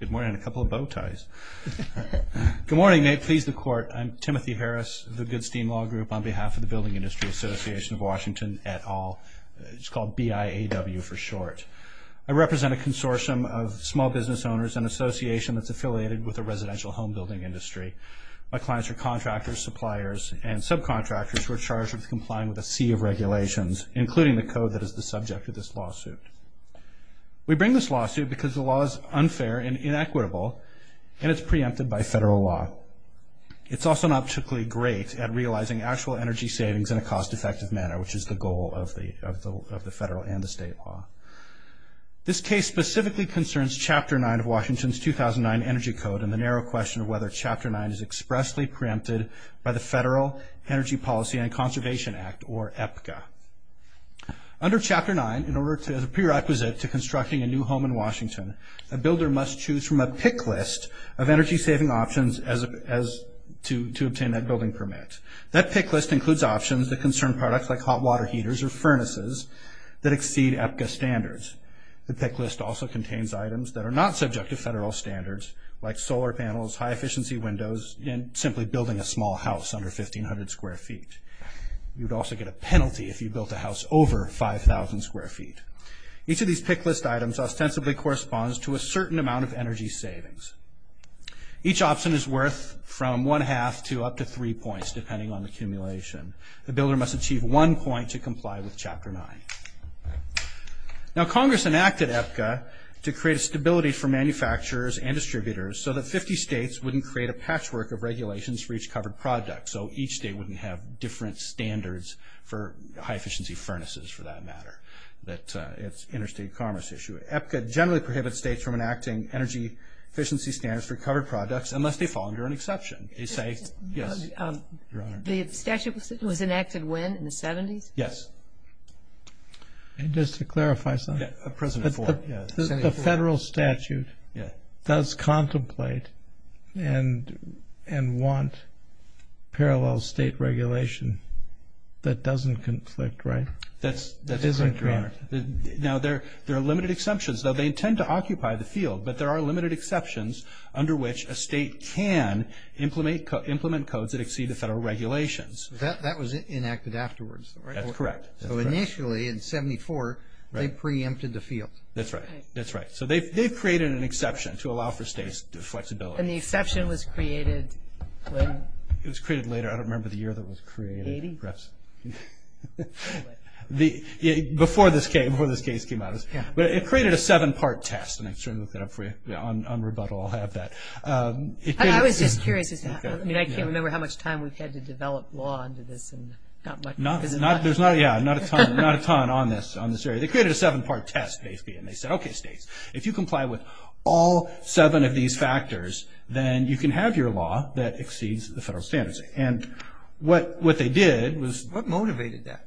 Good morning and a couple of bow ties. Good morning Nate, please the court. I'm Timothy Harris of the Goodstein Law Group on behalf of the Building Industry Association of Washington et al. It's called BIAW for short. I represent a consortium of small business owners and association that's affiliated with the residential home building industry. My clients are contractors, suppliers and subcontractors who are charged with complying with a sea of regulations, including the code that is the subject of this lawsuit. We bring this lawsuit because the lawsuit has been inequitable and it's preempted by federal law. It's also not particularly great at realizing actual energy savings in a cost-effective manner, which is the goal of the federal and the state law. This case specifically concerns Chapter 9 of Washington's 2009 Energy Code and the narrow question of whether Chapter 9 is expressly preempted by the Federal Energy Policy and Conservation Act or not. Under Chapter 9, in order to, as a prerequisite to constructing a new home in Washington, a builder must choose from a pick list of energy-saving options to obtain that building permit. That pick list includes options that concern products like hot water heaters or furnaces that exceed EPGA standards. The pick list also contains items that are not subject to federal standards, like solar panels, high efficiency windows and simply building a small house under 1,500 square feet. You would also get a penalty if you built a house over 5,000 square feet. Each of these pick list items ostensibly corresponds to a certain amount of energy savings. Each option is worth from one-half to up to three points, depending on the accumulation. The builder must achieve one point to comply with Chapter 9. Now Congress enacted EPGA to create a stability for manufacturers and distributors so that 50 states wouldn't create a patchwork of regulations for each covered product, so each state wouldn't have different standards for high efficiency furnaces, for that matter. That's an interstate commerce issue. EPGA generally prohibits states from enacting energy efficiency standards for covered products unless they fall under an exception. They say, yes. The statute was enacted when? In the 70s? Yes. Just to clarify something. President Ford. The federal statute does contemplate and want parallel state regulation that doesn't conflict, right? That's correct, Your Honor. Now, there are limited exceptions, though they intend to occupy the field, but there are limited exceptions under which a state can implement codes that exceed the federal regulations. That was enacted afterwards, right? That's correct. So initially, in 74, they preempted the field. That's right. That's right. So they've created an exception to allow for states' flexibility. And the exception was created when? It was created later. I don't remember the year that it was created. 80? Perhaps. Before this case came out. It created a seven-part test, and I can certainly look that up for you. On rebuttal, I'll have that. I was just curious. I mean, I can't remember how much time we've had to develop law under this. There's not a ton on this area. They created a seven-part test, basically, and they said, okay, states, if you comply with all seven of these factors, then you can have your law that exceeds the federal standards. And what they did was – What motivated that?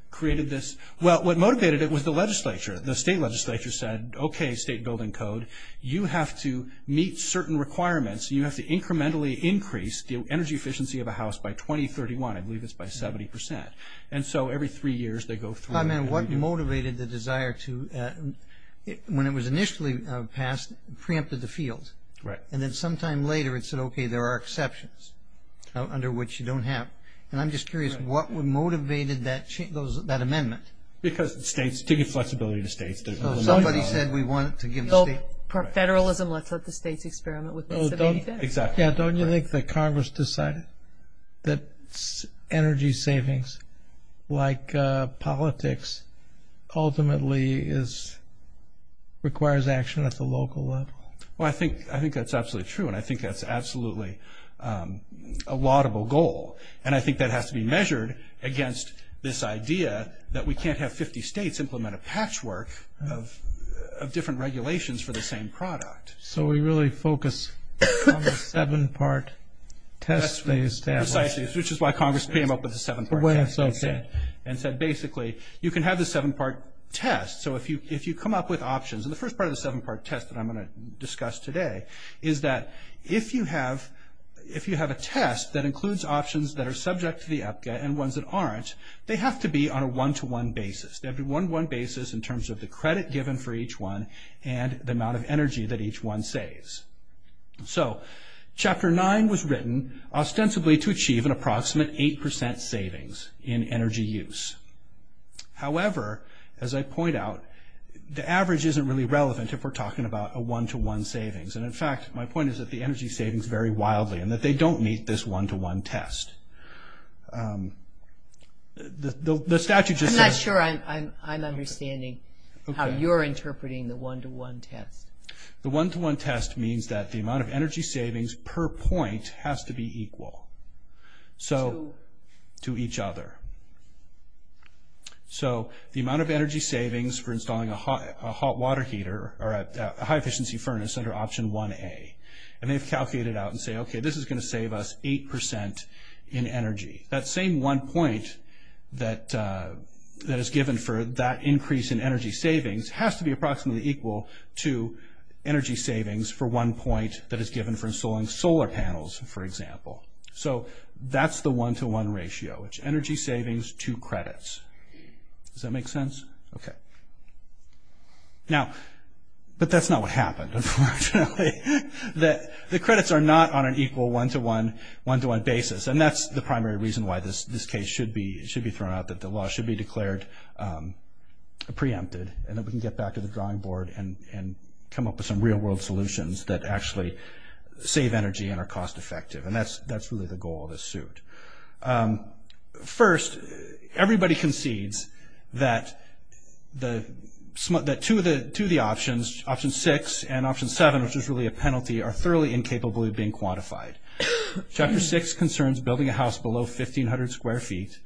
Well, what motivated it was the legislature. The state legislature said, okay, state building code, you have to meet certain requirements. You have to incrementally increase the energy efficiency of a house by 2031. I believe it's by 70 percent. And so every three years, they go through. And what motivated the desire to – when it was initially passed, preempted the field. Right. And then sometime later, it said, okay, there are exceptions under which you don't have. And I'm just curious, what motivated that amendment? Because states – to give flexibility to states. Somebody said we wanted to give the state – Federalism, let's let the states experiment with this. Yeah, don't you think that Congress decided that energy savings, like politics, ultimately requires action at the local level? Well, I think that's absolutely true, and I think that's absolutely a laudable goal. And I think that has to be measured against this idea that we can't have 50 states implement a patchwork of different regulations for the same product. So we really focus on the seven-part test phase. Precisely, which is why Congress came up with the seven-part test. And said, basically, you can have the seven-part test. So if you come up with options – and the first part of the seven-part test that I'm going to discuss today is that if you have a test that includes options that are subject to the EPCA and ones that aren't, they have to be on a one-to-one basis. They have to be one-to-one basis in terms of the credit given for each one and the amount of energy that each one saves. So Chapter 9 was written ostensibly to achieve an approximate 8% savings in energy use. However, as I point out, the average isn't really relevant if we're talking about a one-to-one savings. And, in fact, my point is that the energy savings vary wildly and that they don't meet this one-to-one test. The statute just says – I'm not sure I'm understanding how you're interpreting the one-to-one test. The one-to-one test means that the amount of energy savings per point has to be equal. So – To each other. So the amount of energy savings for installing a hot water heater or a high-efficiency furnace under Option 1A. And they've calculated out and say, okay, this is going to save us 8% in energy. That same one point that is given for that increase in energy savings has to be approximately equal to energy savings for one point that is given for installing solar panels, for example. So that's the one-to-one ratio. It's energy savings, two credits. Does that make sense? Okay. Now – But that's not what happened, unfortunately. The credits are not on an equal one-to-one basis. And that's the primary reason why this case should be thrown out, that the law should be declared preempted and that we can get back to the drawing board and come up with some real-world solutions that actually save energy and are cost-effective. And that's really the goal of this suit. First, everybody concedes that two of the options, Option 6 and Option 7, which is really a penalty, are thoroughly incapable of being quantified. Chapter 6 concerns building a house below 1,500 square feet.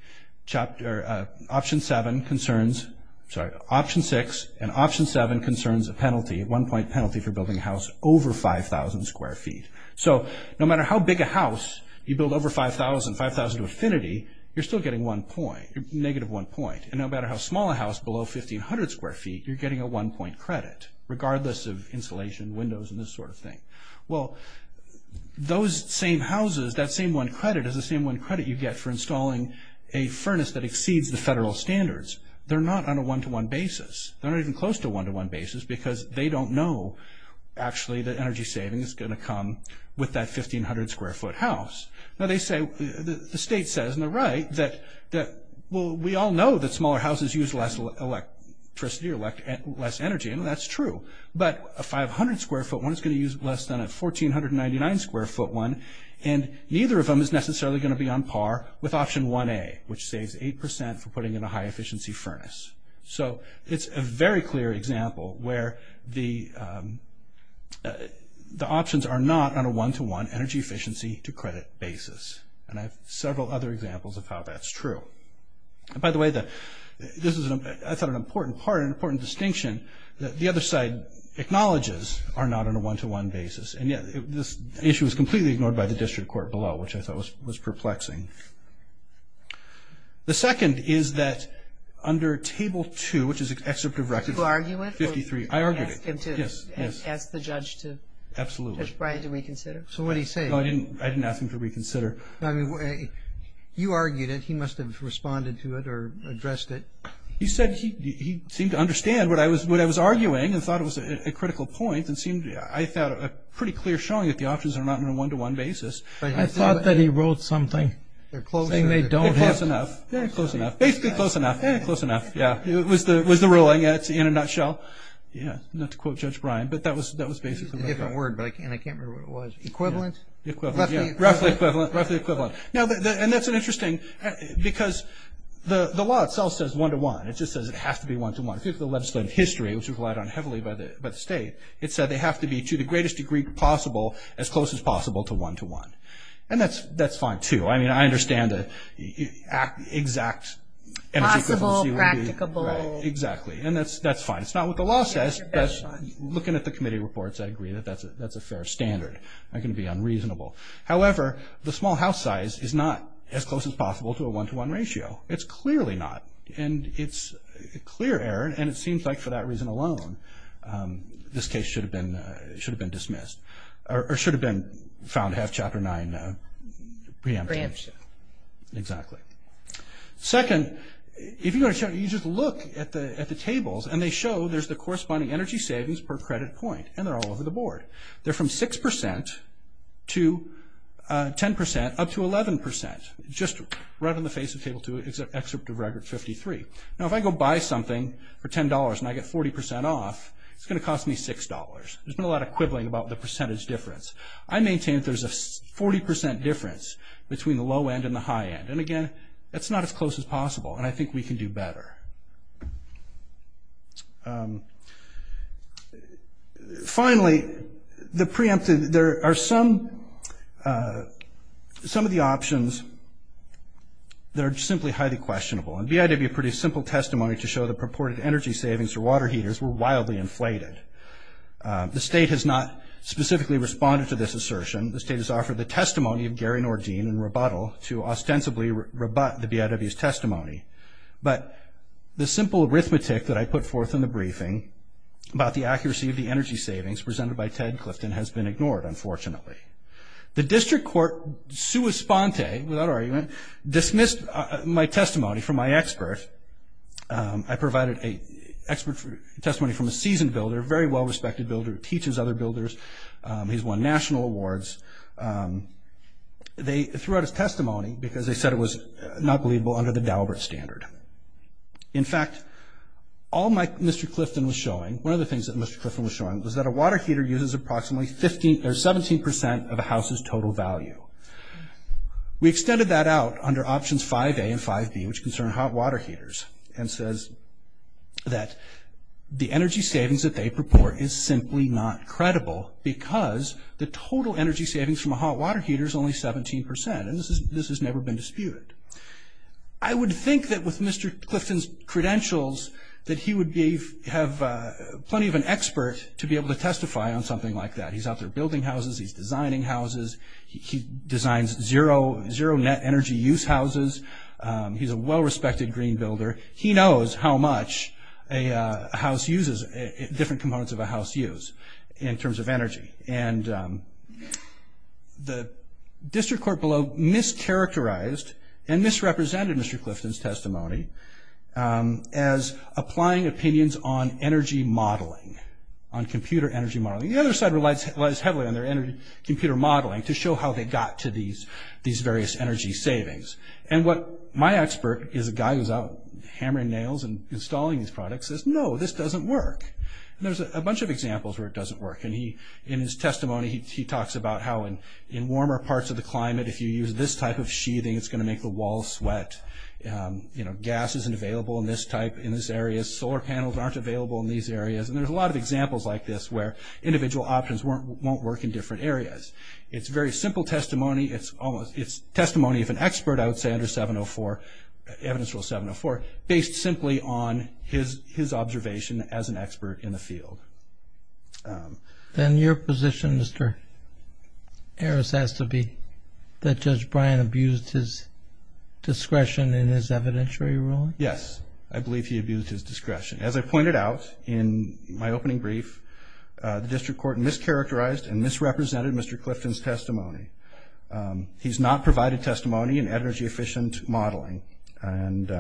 Option 7 concerns – sorry, Option 6 and Option 7 concerns a penalty, a one-point penalty for building a house over 5,000 square feet. So no matter how big a house you build over 5,000, 5,000 to infinity, you're still getting one point – negative one point. And no matter how small a house below 1,500 square feet, you're getting a one-point credit, regardless of insulation, windows, and this sort of thing. Well, those same houses, that same one credit is the same one credit you get for installing a furnace that exceeds the federal standards. They're not on a one-to-one basis. They're not even close to a one-to-one basis because they don't know, actually, that energy saving is going to come with that 1,500-square-foot house. Now, they say – the state says on the right that, well, we all know that smaller houses use less electricity or less energy, and that's true. But a 500-square-foot one is going to use less than a 1,499-square-foot one, and neither of them is necessarily going to be on par with Option 1A, which saves 8% for putting in a high-efficiency furnace. So it's a very clear example where the options are not on a one-to-one energy-efficiency-to-credit basis, and I have several other examples of how that's true. By the way, this is, I thought, an important part, an important distinction, that the other side acknowledges are not on a one-to-one basis, and yet this issue is completely ignored by the district court below, which I thought was perplexing. The second is that under Table 2, which is Excerpt of Record 53 – Do you argue it? I argue it, yes. Ask the judge to reconsider? Absolutely. So what did he say? I didn't ask him to reconsider. You argued it. He must have responded to it or addressed it. He said he seemed to understand what I was arguing and thought it was a critical point and seemed, I thought, a pretty clear showing that the options are not on a one-to-one basis. I thought that he wrote something saying they don't. Close enough. Close enough. Basically close enough. Close enough. Yeah. It was the ruling in a nutshell. Yeah. Not to quote Judge Bryan, but that was basically what he wrote. Different word, but I can't remember what it was. Equivalent? Equivalent, yeah. Roughly equivalent. Roughly equivalent. Now, and that's interesting because the law itself says one-to-one. It just says it has to be one-to-one. If you look at the legislative history, which was relied on heavily by the state, it said they have to be, to the greatest degree possible, as close as possible to one-to-one. And that's fine, too. I mean, I understand the exact energy equivalency would be. Possible, practicable. Right. Exactly. And that's fine. It's not what the law says, but looking at the committee reports, I agree that that's a fair standard. That can be unreasonable. However, the small house size is not as close as possible to a one-to-one ratio. It's clearly not. And it's a clear error, and it seems like for that reason alone, this case should have been dismissed or should have been found to have Chapter 9 preemption. Preemption. Exactly. Second, if you just look at the tables, and they show there's the corresponding energy savings per credit point, and they're all over the board. They're from 6% to 10% up to 11%, just right on the face of Table 2. It's an excerpt of Record 53. Now, if I go buy something for $10 and I get 40% off, it's going to cost me $6. There's been a lot of quibbling about the percentage difference. I maintain that there's a 40% difference between the low end and the high end. And, again, that's not as close as possible, and I think we can do better. Finally, the preemptive, there are some of the options that are simply highly questionable. And BIW produced simple testimony to show the purported energy savings for water heaters were wildly inflated. The state has not specifically responded to this assertion. The state has offered the testimony of Gary Nordine in rebuttal to ostensibly rebut the BIW's testimony. But the simple arithmetic that I put forth in the briefing about the accuracy of the energy savings presented by Ted Clifton has been ignored, unfortunately. The district court, sua sponte, without argument, dismissed my testimony from my expert. I provided a testimony from a seasoned builder, a very well-respected builder, who teaches other builders. He's won national awards. They threw out his testimony because they said it was not believable under the Daubert standard. In fact, all Mr. Clifton was showing, one of the things that Mr. Clifton was showing, was that a water heater uses approximately 17% of a house's total value. We extended that out under options 5A and 5B, which concern hot water heaters, and says that the energy savings that they purport is simply not credible because the total energy savings from a hot water heater is only 17%, and this has never been disputed. I would think that with Mr. Clifton's credentials that he would have plenty of an expert to be able to testify on something like that. He's out there building houses. He's designing houses. He designs zero net energy use houses. He's a well-respected green builder. He knows how much a house uses, different components of a house use in terms of energy. The district court below mischaracterized and misrepresented Mr. Clifton's testimony as applying opinions on energy modeling, on computer energy modeling. The other side relies heavily on their computer modeling to show how they got to these various energy savings. What my expert is a guy who's out hammering nails and installing these products, says, no, this doesn't work. There's a bunch of examples where it doesn't work. In his testimony, he talks about how in warmer parts of the climate, if you use this type of sheathing, it's going to make the walls sweat. Gas isn't available in this type, in this area. Solar panels aren't available in these areas. And there's a lot of examples like this where individual options won't work in different areas. It's very simple testimony. It's testimony of an expert, I would say, under Evidence Rule 704, based simply on his observation as an expert in the field. Then your position, Mr. Harris, has to be that Judge Bryan abused his discretion in his evidentiary ruling? Yes. I believe he abused his discretion. As I pointed out in my opening brief, the district court mischaracterized and misrepresented Mr. Clifton's testimony. He's not provided testimony in energy efficient modeling. And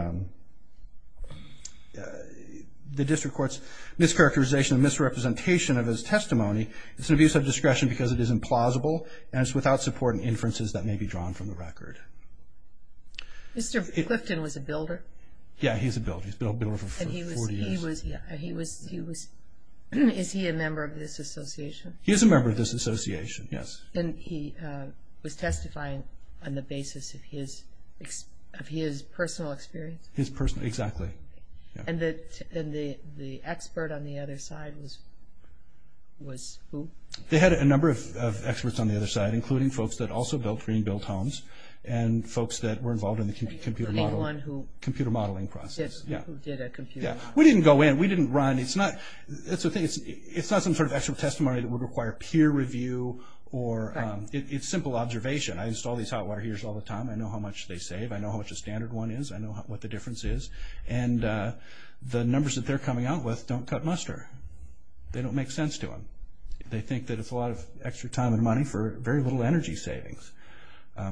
the district court's mischaracterization and misrepresentation of his testimony, it's an abuse of discretion because it is implausible and it's without support and inferences that may be drawn from the record. Mr. Clifton was a builder? Yeah, he's a builder. He's been a builder for 40 years. Is he a member of this association? He is a member of this association, yes. And he was testifying on the basis of his personal experience? His personal experience, exactly. And the expert on the other side was who? They had a number of experts on the other side, including folks that also built green-built homes and folks that were involved in the computer modeling process. Anyone who did a computer? Yeah. We didn't go in. We didn't run. It's not some sort of extra testimony that would require peer review. It's simple observation. I install these hot water heaters all the time. I know how much they save. I know how much a standard one is. I know what the difference is. And the numbers that they're coming out with don't cut muster. They don't make sense to them. They think that it's a lot of extra time and money for very little energy savings.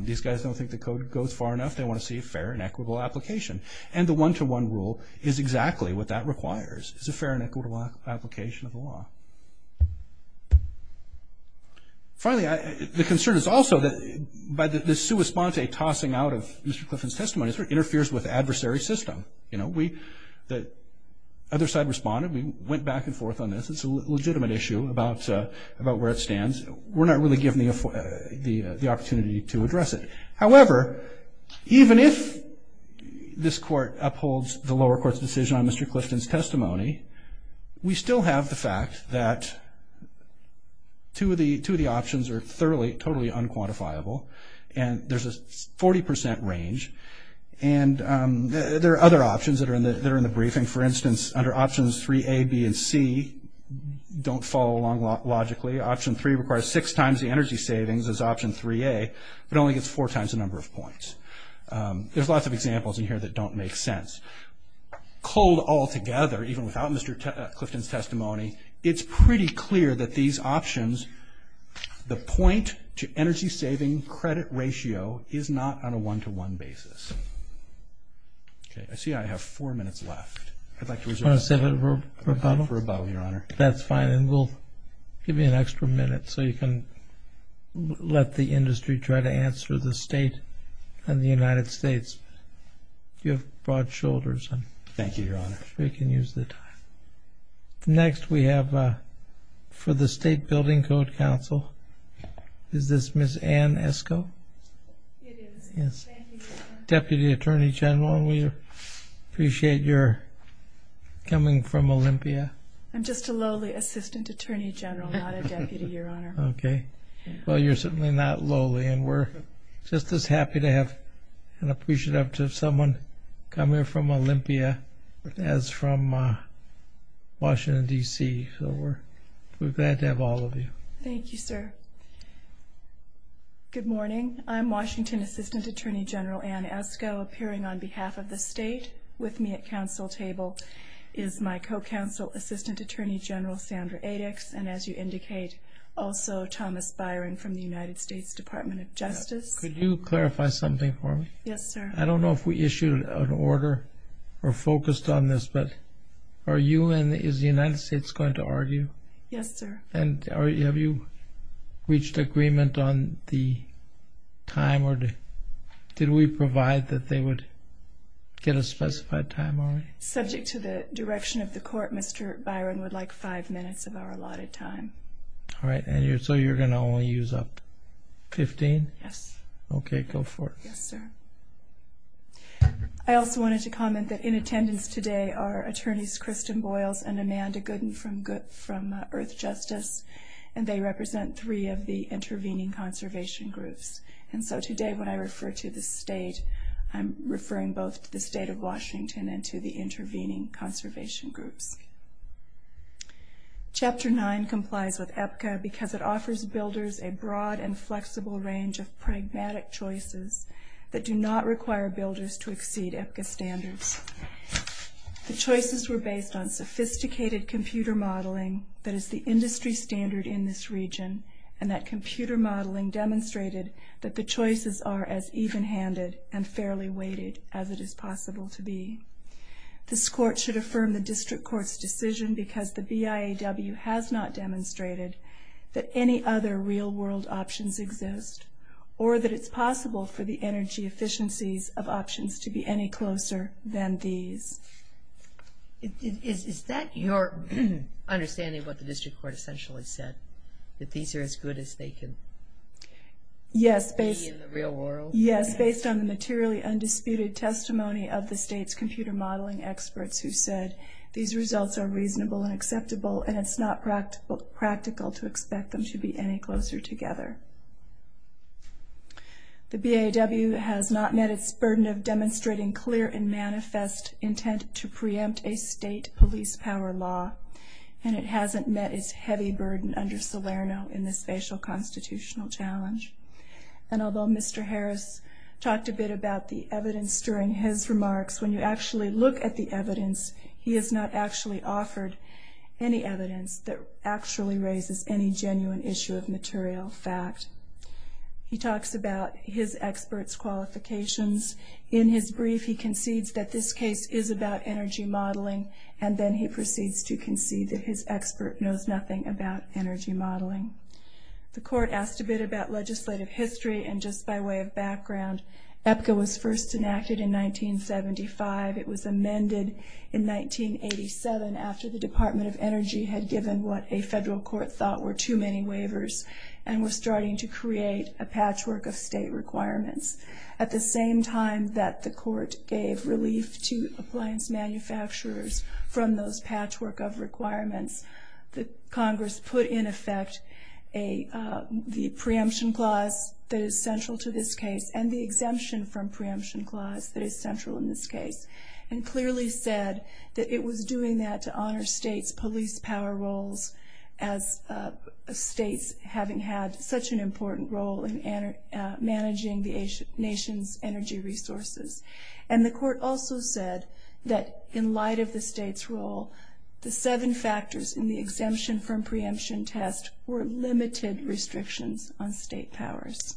These guys don't think the code goes far enough. They want to see a fair and equitable application. And the one-to-one rule is exactly what that requires. It's a fair and equitable application of the law. Finally, the concern is also that by the sua sponte tossing out of Mr. Clifton's testimony, it sort of interferes with adversary system. The other side responded. We went back and forth on this. It's a legitimate issue about where it stands. We're not really given the opportunity to address it. However, even if this court upholds the lower court's decision on Mr. Clifton's testimony, we still have the fact that two of the options are thoroughly, totally unquantifiable, and there's a 40% range. And there are other options that are in the briefing. For instance, under options 3A, B, and C don't follow along logically. Option 3 requires six times the energy savings as option 3A, but only gets four times the number of points. There's lots of examples in here that don't make sense. Cold altogether, even without Mr. Clifton's testimony, it's pretty clear that these options, the point-to-energy-saving credit ratio, is not on a one-to-one basis. Okay, I see I have four minutes left. I'd like to reserve a minute for a bottle, Your Honor. That's fine, and we'll give you an extra minute so you can let the industry try to answer the state and the United States. You have broad shoulders. Thank you, Your Honor. We can use the time. Next we have for the State Building Code Council, is this Ms. Ann Esco? It is. Yes. Deputy Attorney General, we appreciate your coming from Olympia. I'm just a lowly assistant attorney general, not a deputy, Your Honor. Okay. Well, you're certainly not lowly, and we're just as happy and appreciative to have someone come here from Olympia as from Washington, D.C., so we're glad to have all of you. Thank you, sir. Good morning. I'm Washington Assistant Attorney General Ann Esco, appearing on behalf of the state. With me at counsel table is my co-counsel, Assistant Attorney General Sandra Adix, and as you indicate, also Thomas Byring from the United States Department of Justice. Could you clarify something for me? Yes, sir. I don't know if we issued an order or focused on this, but are you and is the United States going to argue? Yes, sir. And have you reached agreement on the time or did we provide that they would get a specified time already? Subject to the direction of the court, Mr. Byring would like five minutes of our allotted time. All right. So you're going to only use up 15? Yes. Okay. Go for it. Yes, sir. I also wanted to comment that in attendance today are attorneys Kristen Boyles and Amanda Gooden from Earth Justice, and they represent three of the intervening conservation groups. And so today when I refer to the state, I'm referring both to the state of Washington and to the intervening conservation groups. Chapter 9 complies with EPCA because it offers builders a broad and flexible range of pragmatic choices that do not require builders to exceed EPCA standards. The choices were based on sophisticated computer modeling that is the industry standard in this region, and that computer modeling demonstrated that the choices are as even-handed and fairly weighted as it is possible to be. This court should affirm the district court's decision because the BIAW has not demonstrated that any other real-world options exist or that it's possible for the energy efficiencies of options to be any closer than these. Is that your understanding of what the district court essentially said, that these are as good as they can be in the real world? Yes, based on the materially undisputed testimony of the state's computer modeling experts who said these results are reasonable and acceptable, and it's not practical to expect them to be any closer together. The BIAW has not met its burden of demonstrating clear and manifest intent to preempt a state police power law, and it hasn't met its heavy burden under Salerno in this facial constitutional challenge. And although Mr. Harris talked a bit about the evidence during his remarks, when you actually look at the evidence, he has not actually offered any evidence that actually raises any genuine issue of material fact. He talks about his experts' qualifications. In his brief, he concedes that this case is about energy modeling, and then he proceeds to concede that his expert knows nothing about energy modeling. The court asked a bit about legislative history, and just by way of background, EPCA was first enacted in 1975. It was amended in 1987 after the Department of Energy had given what a federal court thought were too many waivers and was starting to create a patchwork of state requirements. At the same time that the court gave relief to appliance manufacturers from those patchwork of requirements, Congress put in effect the preemption clause that is central to this case and the exemption from preemption clause that is central in this case, and clearly said that it was doing that to honor states' police power roles as states having had such an important role in managing the nation's energy resources. And the court also said that in light of the states' role, the seven factors in the exemption from preemption test were limited restrictions on state powers.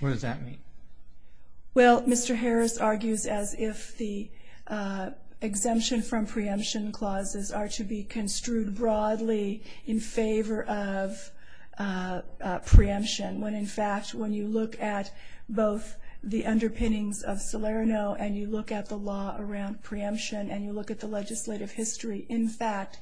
What does that mean? Well, Mr. Harris argues as if the exemption from preemption clauses are to be construed broadly in favor of preemption, when in fact when you look at both the underpinnings of Salerno and you look at the law around preemption and you look at the legislative history, in fact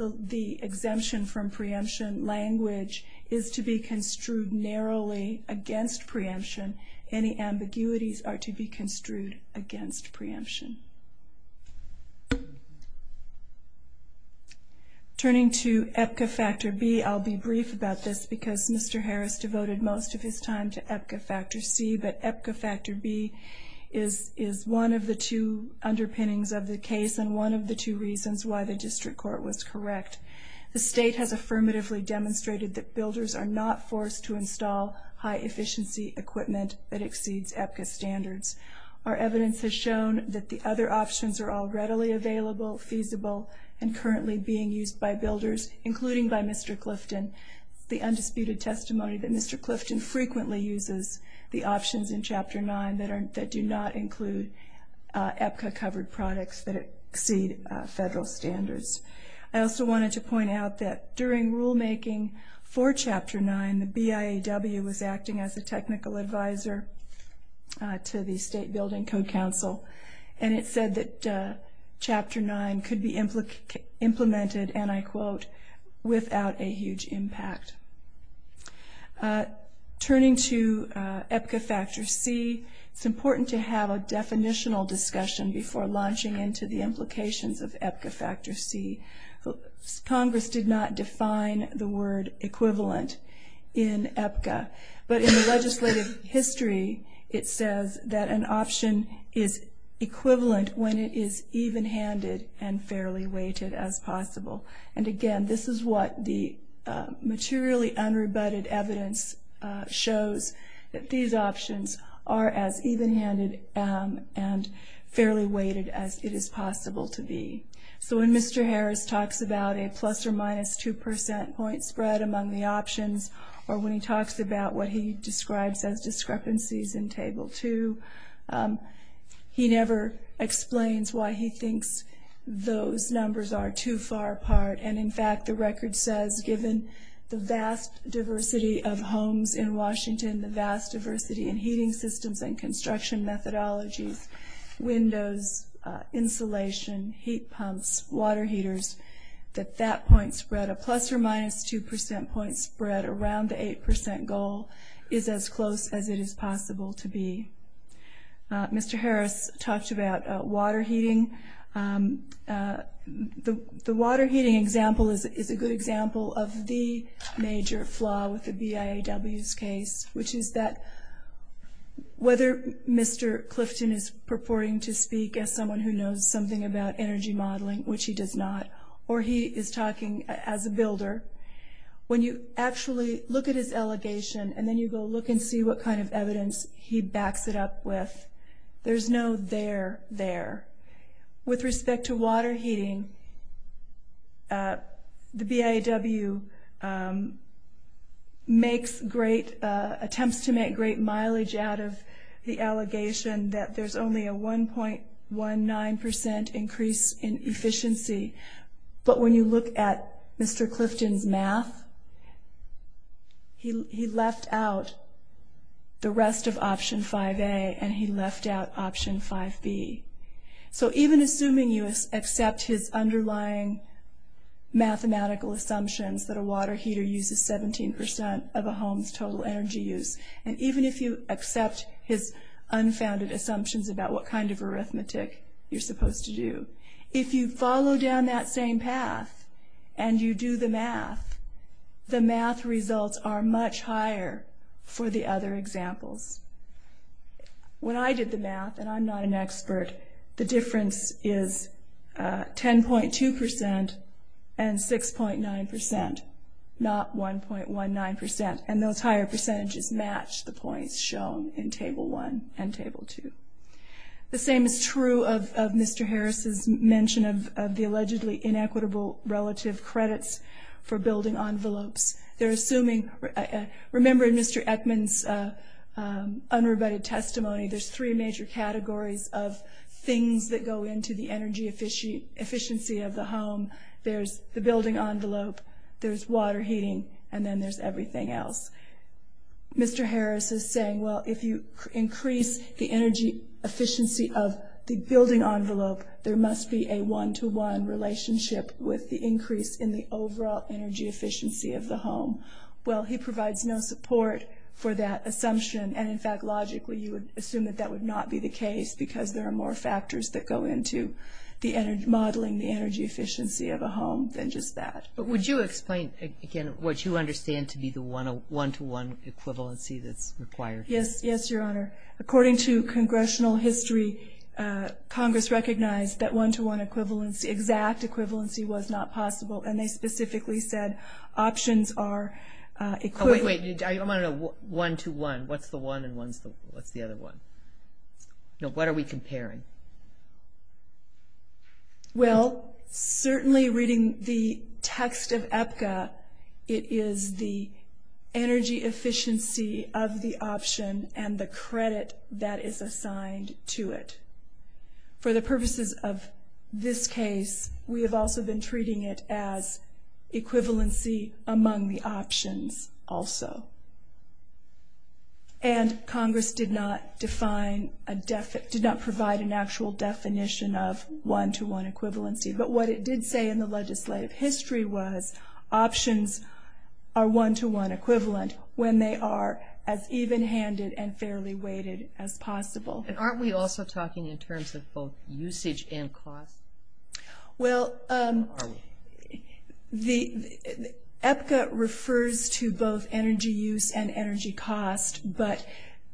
the exemption from preemption language is to be construed narrowly against preemption. Any ambiguities are to be construed against preemption. Turning to EPCA Factor B, I'll be brief about this because Mr. Harris devoted most of his time to EPCA Factor C, but EPCA Factor B is one of the two underpinnings of the case and one of the two reasons why the district court was correct. The state has affirmatively demonstrated that builders are not forced to install high-efficiency equipment that exceeds EPCA standards. Our evidence has shown that the other options are all readily available, feasible, and currently being used by builders, including by Mr. Clifton. It's the undisputed testimony that Mr. Clifton frequently uses the options in Chapter 9 that do not include EPCA-covered products that exceed federal standards. I also wanted to point out that during rulemaking for Chapter 9, the BIAW was acting as a technical advisor to the State Building Code Council, and it said that Chapter 9 could be implemented, and I quote, without a huge impact. Turning to EPCA Factor C, it's important to have a definitional discussion before launching into the implications of EPCA Factor C. Congress did not define the word equivalent in EPCA, but in the legislative history it says that an option is equivalent when it is even-handed and fairly weighted as possible. And again, this is what the materially unrebutted evidence shows, that these options are as even-handed and fairly weighted as it is possible to be. So when Mr. Harris talks about a plus or minus 2% point spread among the options, or when he talks about what he describes as discrepancies in Table 2, he never explains why he thinks those numbers are too far apart. And, in fact, the record says, given the vast diversity of homes in Washington, the vast diversity in heating systems and construction methodologies, windows, insulation, heat pumps, water heaters, that that point spread, a plus or minus 2% point spread around the 8% goal, is as close as it is possible to be. Mr. Harris talked about water heating. The water heating example is a good example of the major flaw with the BIAW's case, which is that whether Mr. Clifton is purporting to speak as someone who knows something about energy modeling, which he does not, or he is talking as a builder, when you actually look at his allegation, and then you go look and see what kind of evidence he backs it up with, there's no there there. With respect to water heating, the BIAW makes great, attempts to make great mileage out of the allegation that there's only a 1.19% increase in efficiency. But when you look at Mr. Clifton's math, he left out the rest of option 5A, and he left out option 5B. So even assuming you accept his underlying mathematical assumptions, that a water heater uses 17% of a home's total energy use, and even if you accept his unfounded assumptions about what kind of arithmetic you're supposed to do, if you follow down that same path and you do the math, the math results are much higher for the other examples. When I did the math, and I'm not an expert, the difference is 10.2% and 6.9%, not 1.19%, and those higher percentages match the points shown in Table 1 and Table 2. The same is true of Mr. Harris's mention of the allegedly inequitable relative credits for building envelopes. Remember in Mr. Eckman's unrebutted testimony, there's three major categories of things that go into the energy efficiency of the home. There's the building envelope, there's water heating, and then there's everything else. Mr. Harris is saying, well, if you increase the energy efficiency of the building envelope, there must be a one-to-one relationship with the increase in the overall energy efficiency of the home. Well, he provides no support for that assumption, and in fact, logically, you would assume that that would not be the case, because there are more factors that go into modeling the energy efficiency of a home than just that. But would you explain, again, what you understand to be the one-to-one equivalency that's required? Yes, yes, Your Honor. According to congressional history, Congress recognized that one-to-one equivalency, exact equivalency, was not possible, and they specifically said options are equivalent. Oh, wait, wait. I'm on a one-to-one. What's the one and what's the other one? No, what are we comparing? Well, certainly reading the text of EPCA, it is the energy efficiency of the option and the credit that is assigned to it. For the purposes of this case, we have also been treating it as equivalency among the options also. And Congress did not provide an actual definition of one-to-one equivalency, but what it did say in the legislative history was options are one-to-one equivalent when they are as even-handed and fairly weighted as possible. And aren't we also talking in terms of both usage and cost? Well, EPCA refers to both energy use and energy cost, but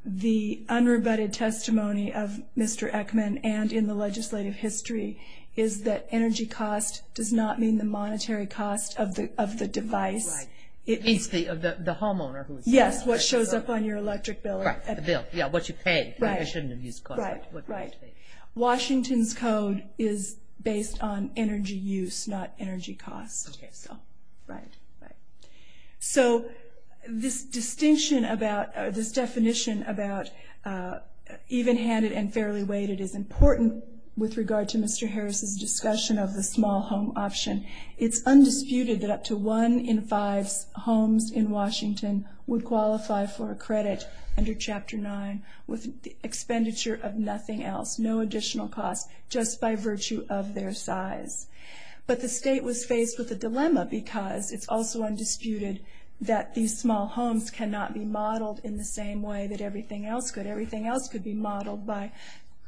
the unrebutted testimony of Mr. Eckman and in the legislative history is that energy cost does not mean the monetary cost of the device. Right. It means the homeowner who is paying. Yes, what shows up on your electric bill. Right, the bill, yeah, what you pay. Right. It shouldn't have used cost. Right, right. Washington's code is based on energy use, not energy cost. Okay. So, right, right. So this distinction about, this definition about even-handed and fairly weighted is important with regard to Mr. Harris's discussion of the small home option. It's undisputed that up to one in five homes in Washington would qualify for a credit under Chapter 9 with expenditure of nothing else, no additional cost, just by virtue of their size. But the state was faced with a dilemma because it's also undisputed that these small homes cannot be modeled in the same way that everything else could. Everything else could be modeled by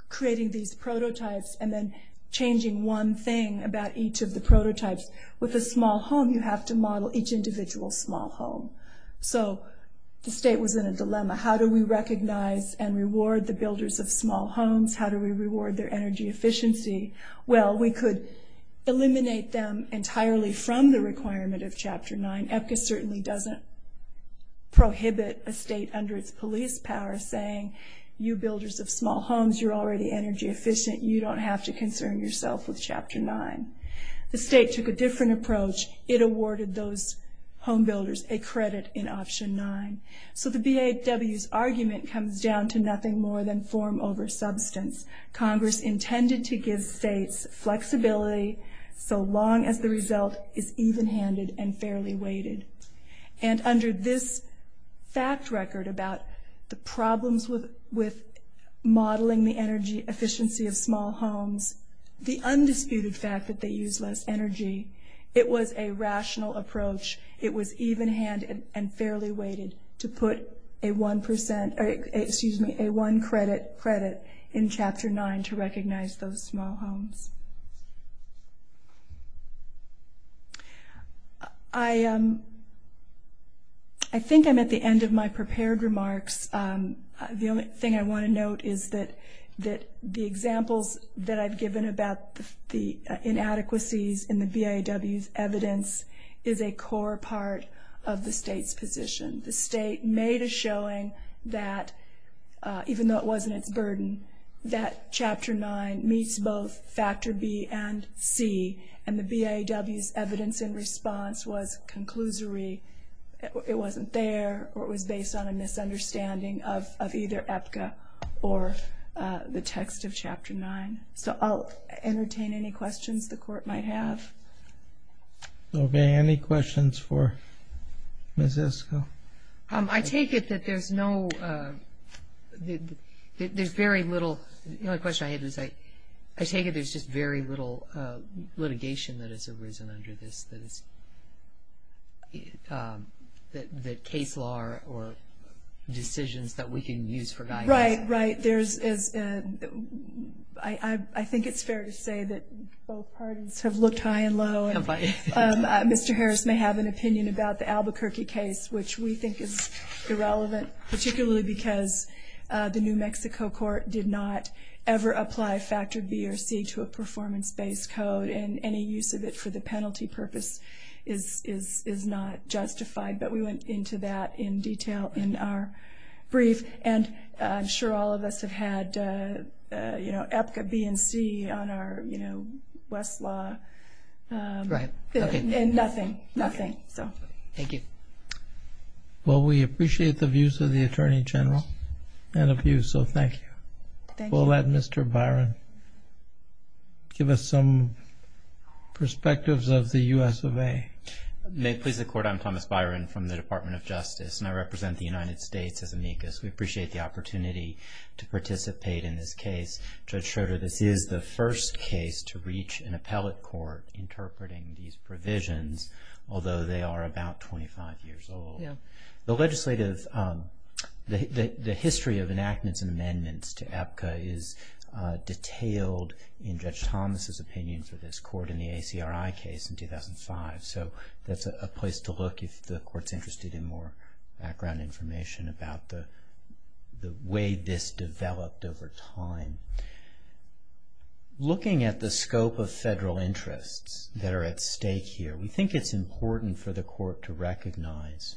creating these prototypes and then changing one thing about each of the prototypes. With a small home, you have to model each individual small home. So the state was in a dilemma. How do we recognize and reward the builders of small homes? How do we reward their energy efficiency? Well, we could eliminate them entirely from the requirement of Chapter 9. And EPCA certainly doesn't prohibit a state under its police power saying, you builders of small homes, you're already energy efficient, you don't have to concern yourself with Chapter 9. The state took a different approach. It awarded those home builders a credit in Option 9. So the BAW's argument comes down to nothing more than form over substance. Congress intended to give states flexibility so long as the result is even-handed and fairly weighted. And under this fact record about the problems with modeling the energy efficiency of small homes, the undisputed fact that they use less energy, it was a rational approach. It was even-handed and fairly weighted to put a one credit in Chapter 9 to recognize those small homes. I think I'm at the end of my prepared remarks. The only thing I want to note is that the examples that I've given about the inadequacies in the BAW's evidence is a core part of the state's position. The state made a showing that, even though it wasn't its burden, that Chapter 9 meets both Factor B and C. And the BAW's evidence in response was conclusory. It wasn't there or it was based on a misunderstanding of either EPCA or the text of Chapter 9. So I'll entertain any questions the Court might have. Okay. Any questions for Ms. Esco? I take it that there's very little litigation that has arisen under this, that case law or decisions that we can use for guidance. Right, right. I think it's fair to say that both parties have looked high and low. Have I? Mr. Harris may have an opinion about the Albuquerque case, which we think is irrelevant, particularly because the New Mexico Court did not ever apply Factor B or C to a performance-based code, and any use of it for the penalty purpose is not justified. But we went into that in detail in our brief. And I'm sure all of us have had EPCA, B, and C on our Westlaw. Right. And nothing, nothing. Thank you. Well, we appreciate the views of the Attorney General and of you, so thank you. Thank you. We'll let Mr. Byron give us some perspectives of the U.S. of A. May it please the Court, I'm Thomas Byron from the Department of Justice, and I represent the United States as amicus. We appreciate the opportunity to participate in this case. Judge Schroeder, this is the first case to reach an appellate court interpreting these provisions, although they are about 25 years old. Yeah. The legislative, the history of enactments and amendments to EPCA is detailed in Judge Thomas' opinion for this court in the ACRI case in 2005. So that's a place to look if the Court's interested in more background information about the way this developed over time. Looking at the scope of federal interests that are at stake here, we think it's important for the Court to recognize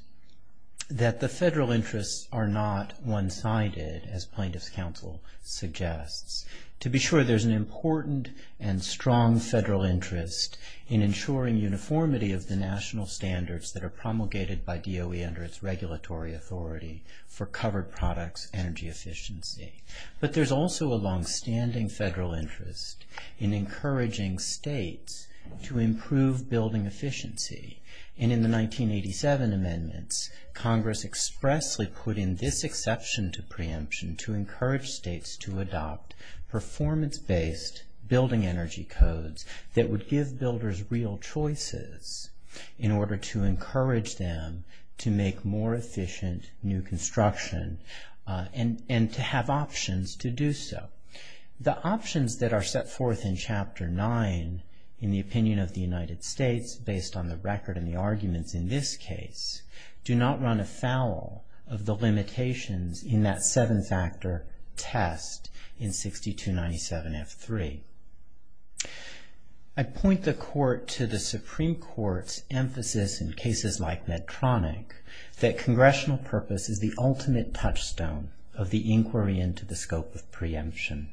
that the federal interests are not one-sided, as Plaintiff's Counsel suggests. To be sure, there's an important and strong federal interest in ensuring uniformity of the national standards that are promulgated by DOE under its regulatory authority for covered products energy efficiency. But there's also a longstanding federal interest in encouraging states to improve building efficiency. And in the 1987 amendments, Congress expressly put in this exception to preemption to encourage states to adopt performance-based building energy codes that would give builders real choices in order to encourage them to make more efficient new construction and to have options to do so. The options that are set forth in Chapter 9 in the opinion of the United States based on the record and the arguments in this case, do not run afoul of the limitations in that seven-factor test in 6297F3. I point the Court to the Supreme Court's emphasis in cases like Medtronic that congressional purpose is the ultimate touchstone of the inquiry into the scope of preemption.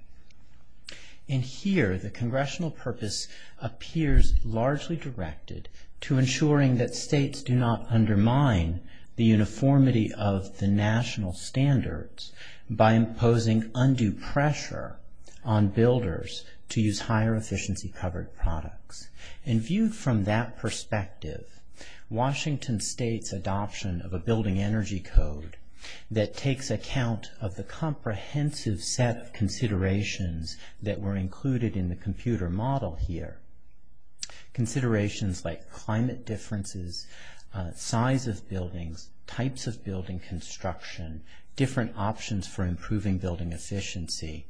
And here, the congressional purpose appears largely directed to ensuring that states do not undermine the uniformity of the national standards by imposing undue pressure on builders to use higher efficiency covered products. And viewed from that perspective, Washington states adoption of a building energy code that takes account of the comprehensive set of considerations that were included in the computer model here. Considerations like climate differences, size of buildings, types of building construction, different options for improving building efficiency.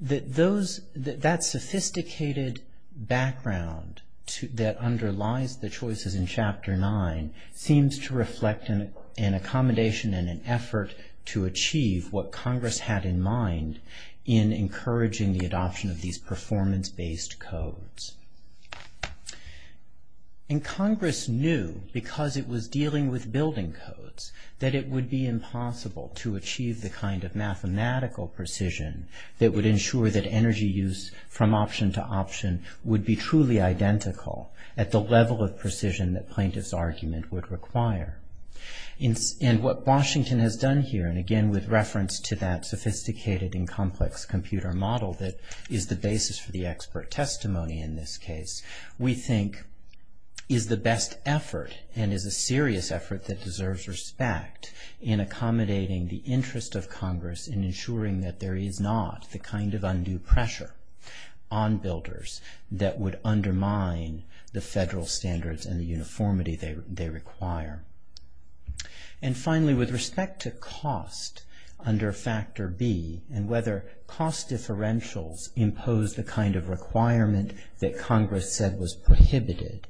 That sophisticated background that underlies the choices in Chapter 9 seems to reflect an accommodation and an effort to achieve what Congress had in mind in encouraging the adoption of these performance-based codes. And Congress knew, because it was dealing with building codes, that it would be impossible to achieve the kind of mathematical precision that would ensure that energy use from option to option would be truly identical at the level of precision that plaintiff's argument would require. And what Washington has done here, and again with reference to that sophisticated and complex computer model that is the basis for the expert testimony in this case, we think is the best effort and is a serious effort that deserves respect in accommodating the interest of Congress in ensuring that there is not the kind of undue pressure on builders that would undermine the federal standards and the uniformity they require. And finally, with respect to cost under Factor B and whether cost differentials impose the kind of requirement that Congress said was prohibited,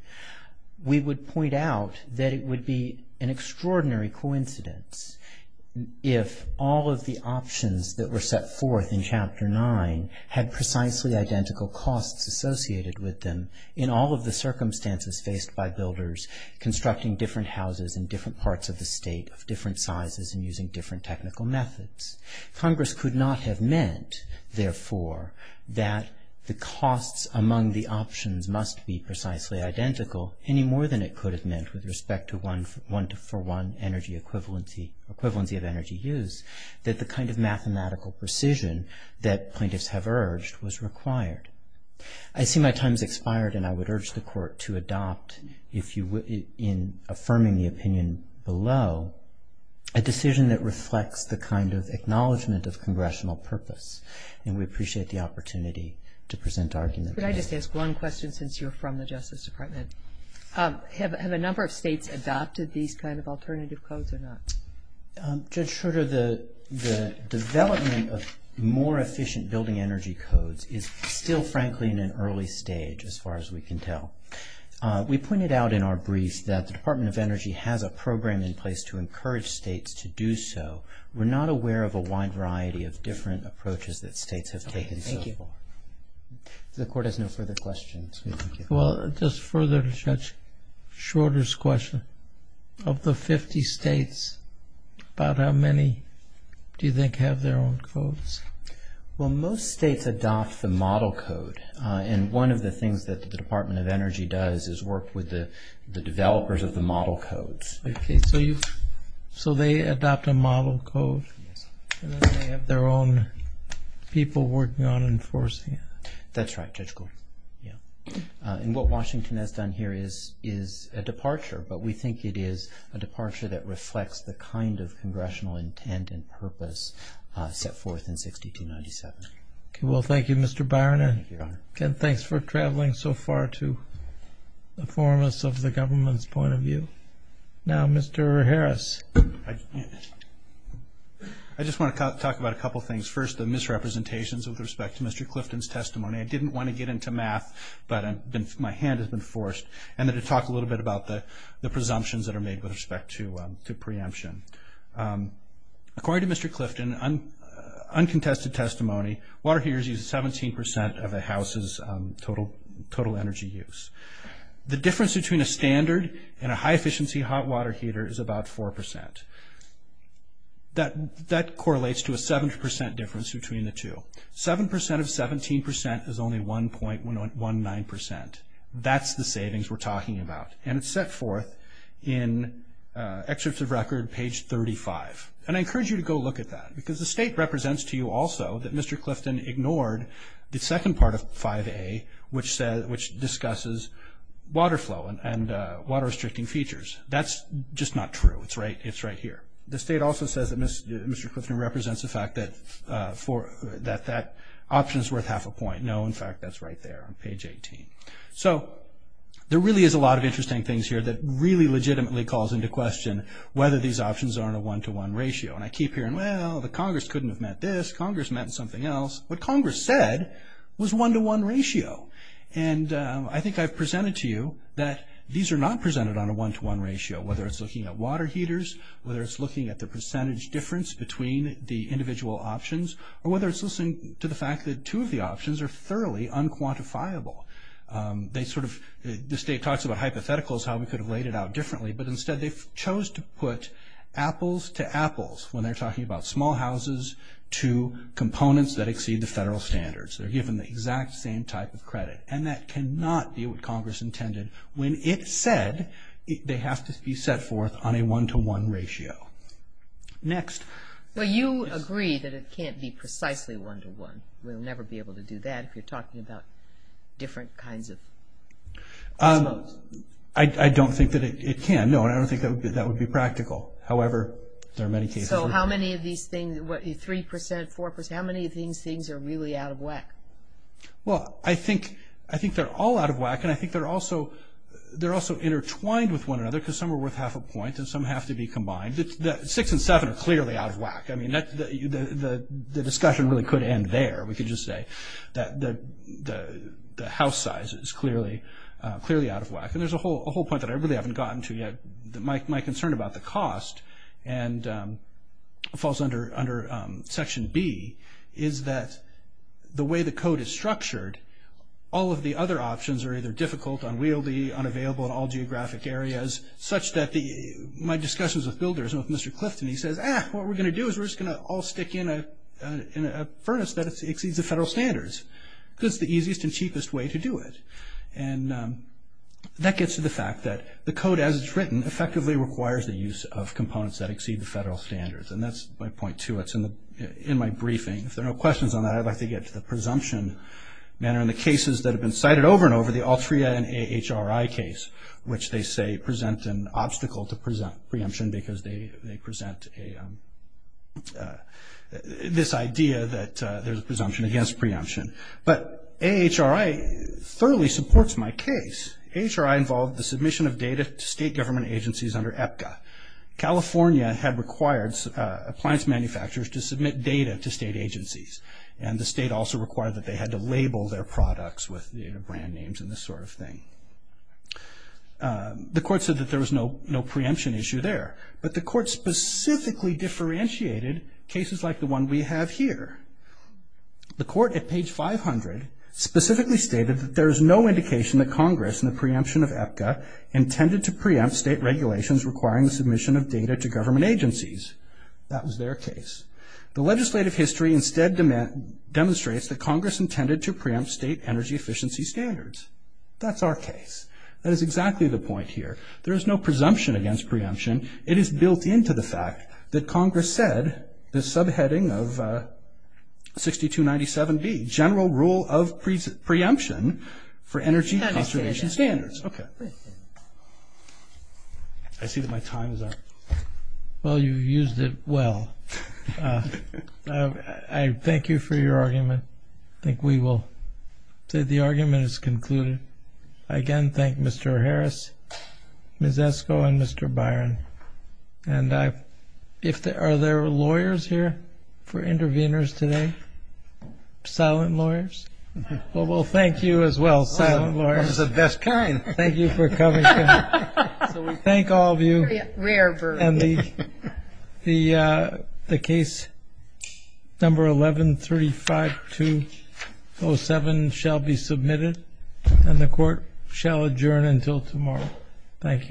we would point out that it would be an extraordinary coincidence if all of the options that were set forth in Chapter 9 had precisely identical costs associated with them in all of the circumstances faced by builders constructing different houses in different parts of the state of different sizes and using different technical methods. Congress could not have meant, therefore, that the costs among the options must be precisely identical any more than it could have meant with respect to one-for-one energy equivalency of energy use that the kind of mathematical precision that plaintiffs have urged was required. I see my time has expired, and I would urge the Court to adopt, in affirming the opinion below, a decision that reflects the kind of acknowledgement of congressional purpose, and we appreciate the opportunity to present arguments. Could I just ask one question since you're from the Justice Department? Have a number of states adopted these kind of alternative codes or not? Judge Schroeder, the development of more efficient building energy codes is still, frankly, in an early stage as far as we can tell. We pointed out in our briefs that the Department of Energy has a program in place to encourage states to do so. We're not aware of a wide variety of different approaches that states have taken so far. The Court has no further questions. Well, just further to Judge Schroeder's question, of the 50 states, about how many do you think have their own codes? Well, most states adopt the model code, and one of the things that the Department of Energy does is work with the developers of the model codes. Okay, so they adopt a model code, and then they have their own people working on enforcing it? That's right, Judge Gold. And what Washington has done here is a departure, but we think it is a departure that reflects the kind of congressional intent and purpose set forth in 1697. Well, thank you, Mr. Byron, and thanks for traveling so far to inform us of the government's point of view. Now, Mr. Harris. I just want to talk about a couple of things. First, the misrepresentations with respect to Mr. Clifton's testimony. I didn't want to get into math, but my hand has been forced. I'm going to talk a little bit about the presumptions that are made with respect to preemption. According to Mr. Clifton, uncontested testimony, water heaters use 17% of a house's total energy use. The difference between a standard and a high-efficiency hot water heater is about 4%. That correlates to a 7% difference between the two. 7% of 17% is only 1.19%. That's the savings we're talking about, and it's set forth in Excerpts of Record, page 35. And I encourage you to go look at that, because the state represents to you also that Mr. Clifton ignored the second part of 5A, which discusses water flow and water-restricting features. That's just not true. It's right here. The state also says that Mr. Clifton represents the fact that that option is worth half a point. No, in fact, that's right there on page 18. So there really is a lot of interesting things here that really legitimately calls into question whether these options are on a one-to-one ratio. And I keep hearing, well, the Congress couldn't have meant this. Congress meant something else. What Congress said was one-to-one ratio. And I think I've presented to you that these are not presented on a one-to-one ratio, whether it's looking at water heaters, whether it's looking at the percentage difference between the individual options, or whether it's listening to the fact that two of the options are thoroughly unquantifiable. They sort of, the state talks about hypotheticals, how we could have laid it out differently, but instead they chose to put apples to apples when they're talking about small houses to components that exceed the federal standards. They're given the exact same type of credit. And that cannot be what Congress intended when it said they have to be set forth on a one-to-one ratio. Next. Well, you agree that it can't be precisely one-to-one. We'll never be able to do that if you're talking about different kinds of households. I don't think that it can. No, I don't think that would be practical. However, there are many cases. So how many of these things, 3 percent, 4 percent, how many of these things are really out of whack? Well, I think they're all out of whack, and I think they're also intertwined with one another because some are worth half a point and some have to be combined. Six and seven are clearly out of whack. I mean, the discussion really could end there. We could just say that the house size is clearly out of whack. And there's a whole point that I really haven't gotten to yet. My concern about the cost falls under Section B, is that the way the code is structured, all of the other options are either difficult, unwieldy, unavailable in all geographic areas, such that my discussions with builders and with Mr. Clifton, he says, ah, what we're going to do is we're just going to all stick in a furnace that exceeds the federal standards because it's the easiest and cheapest way to do it. And that gets to the fact that the code, as it's written, effectively requires the use of components that exceed the federal standards. And that's my point, too. It's in my briefing. If there are no questions on that, I'd like to get to the presumption matter. And the cases that have been cited over and over, the Altria and AHRI case, which they say present an obstacle to preemption because they present this idea that there's a presumption against preemption. But AHRI thoroughly supports my case. AHRI involved the submission of data to state government agencies under APCA. California had required appliance manufacturers to submit data to state agencies. And the state also required that they had to label their products with their brand names and this sort of thing. The court said that there was no preemption issue there. But the court specifically differentiated cases like the one we have here. The court at page 500 specifically stated that there is no indication that Congress in the preemption of APCA intended to preempt state regulations requiring the submission of data to government agencies. That was their case. The legislative history instead demonstrates that Congress intended to preempt state energy efficiency standards. That's our case. That is exactly the point here. There is no presumption against preemption. It is built into the fact that Congress said the subheading of 6297B, general rule of preemption for energy conservation standards. Okay. I see that my time is up. Well, you used it well. I thank you for your argument. I think we will say the argument is concluded. I again thank Mr. Harris, Ms. Esco, and Mr. Byron. And are there lawyers here for interveners today, silent lawyers? Well, thank you as well, silent lawyers. This is the best kind. Thank you for coming. So we thank all of you. And the case number 1135207 shall be submitted, and the Court shall adjourn until tomorrow. Thank you.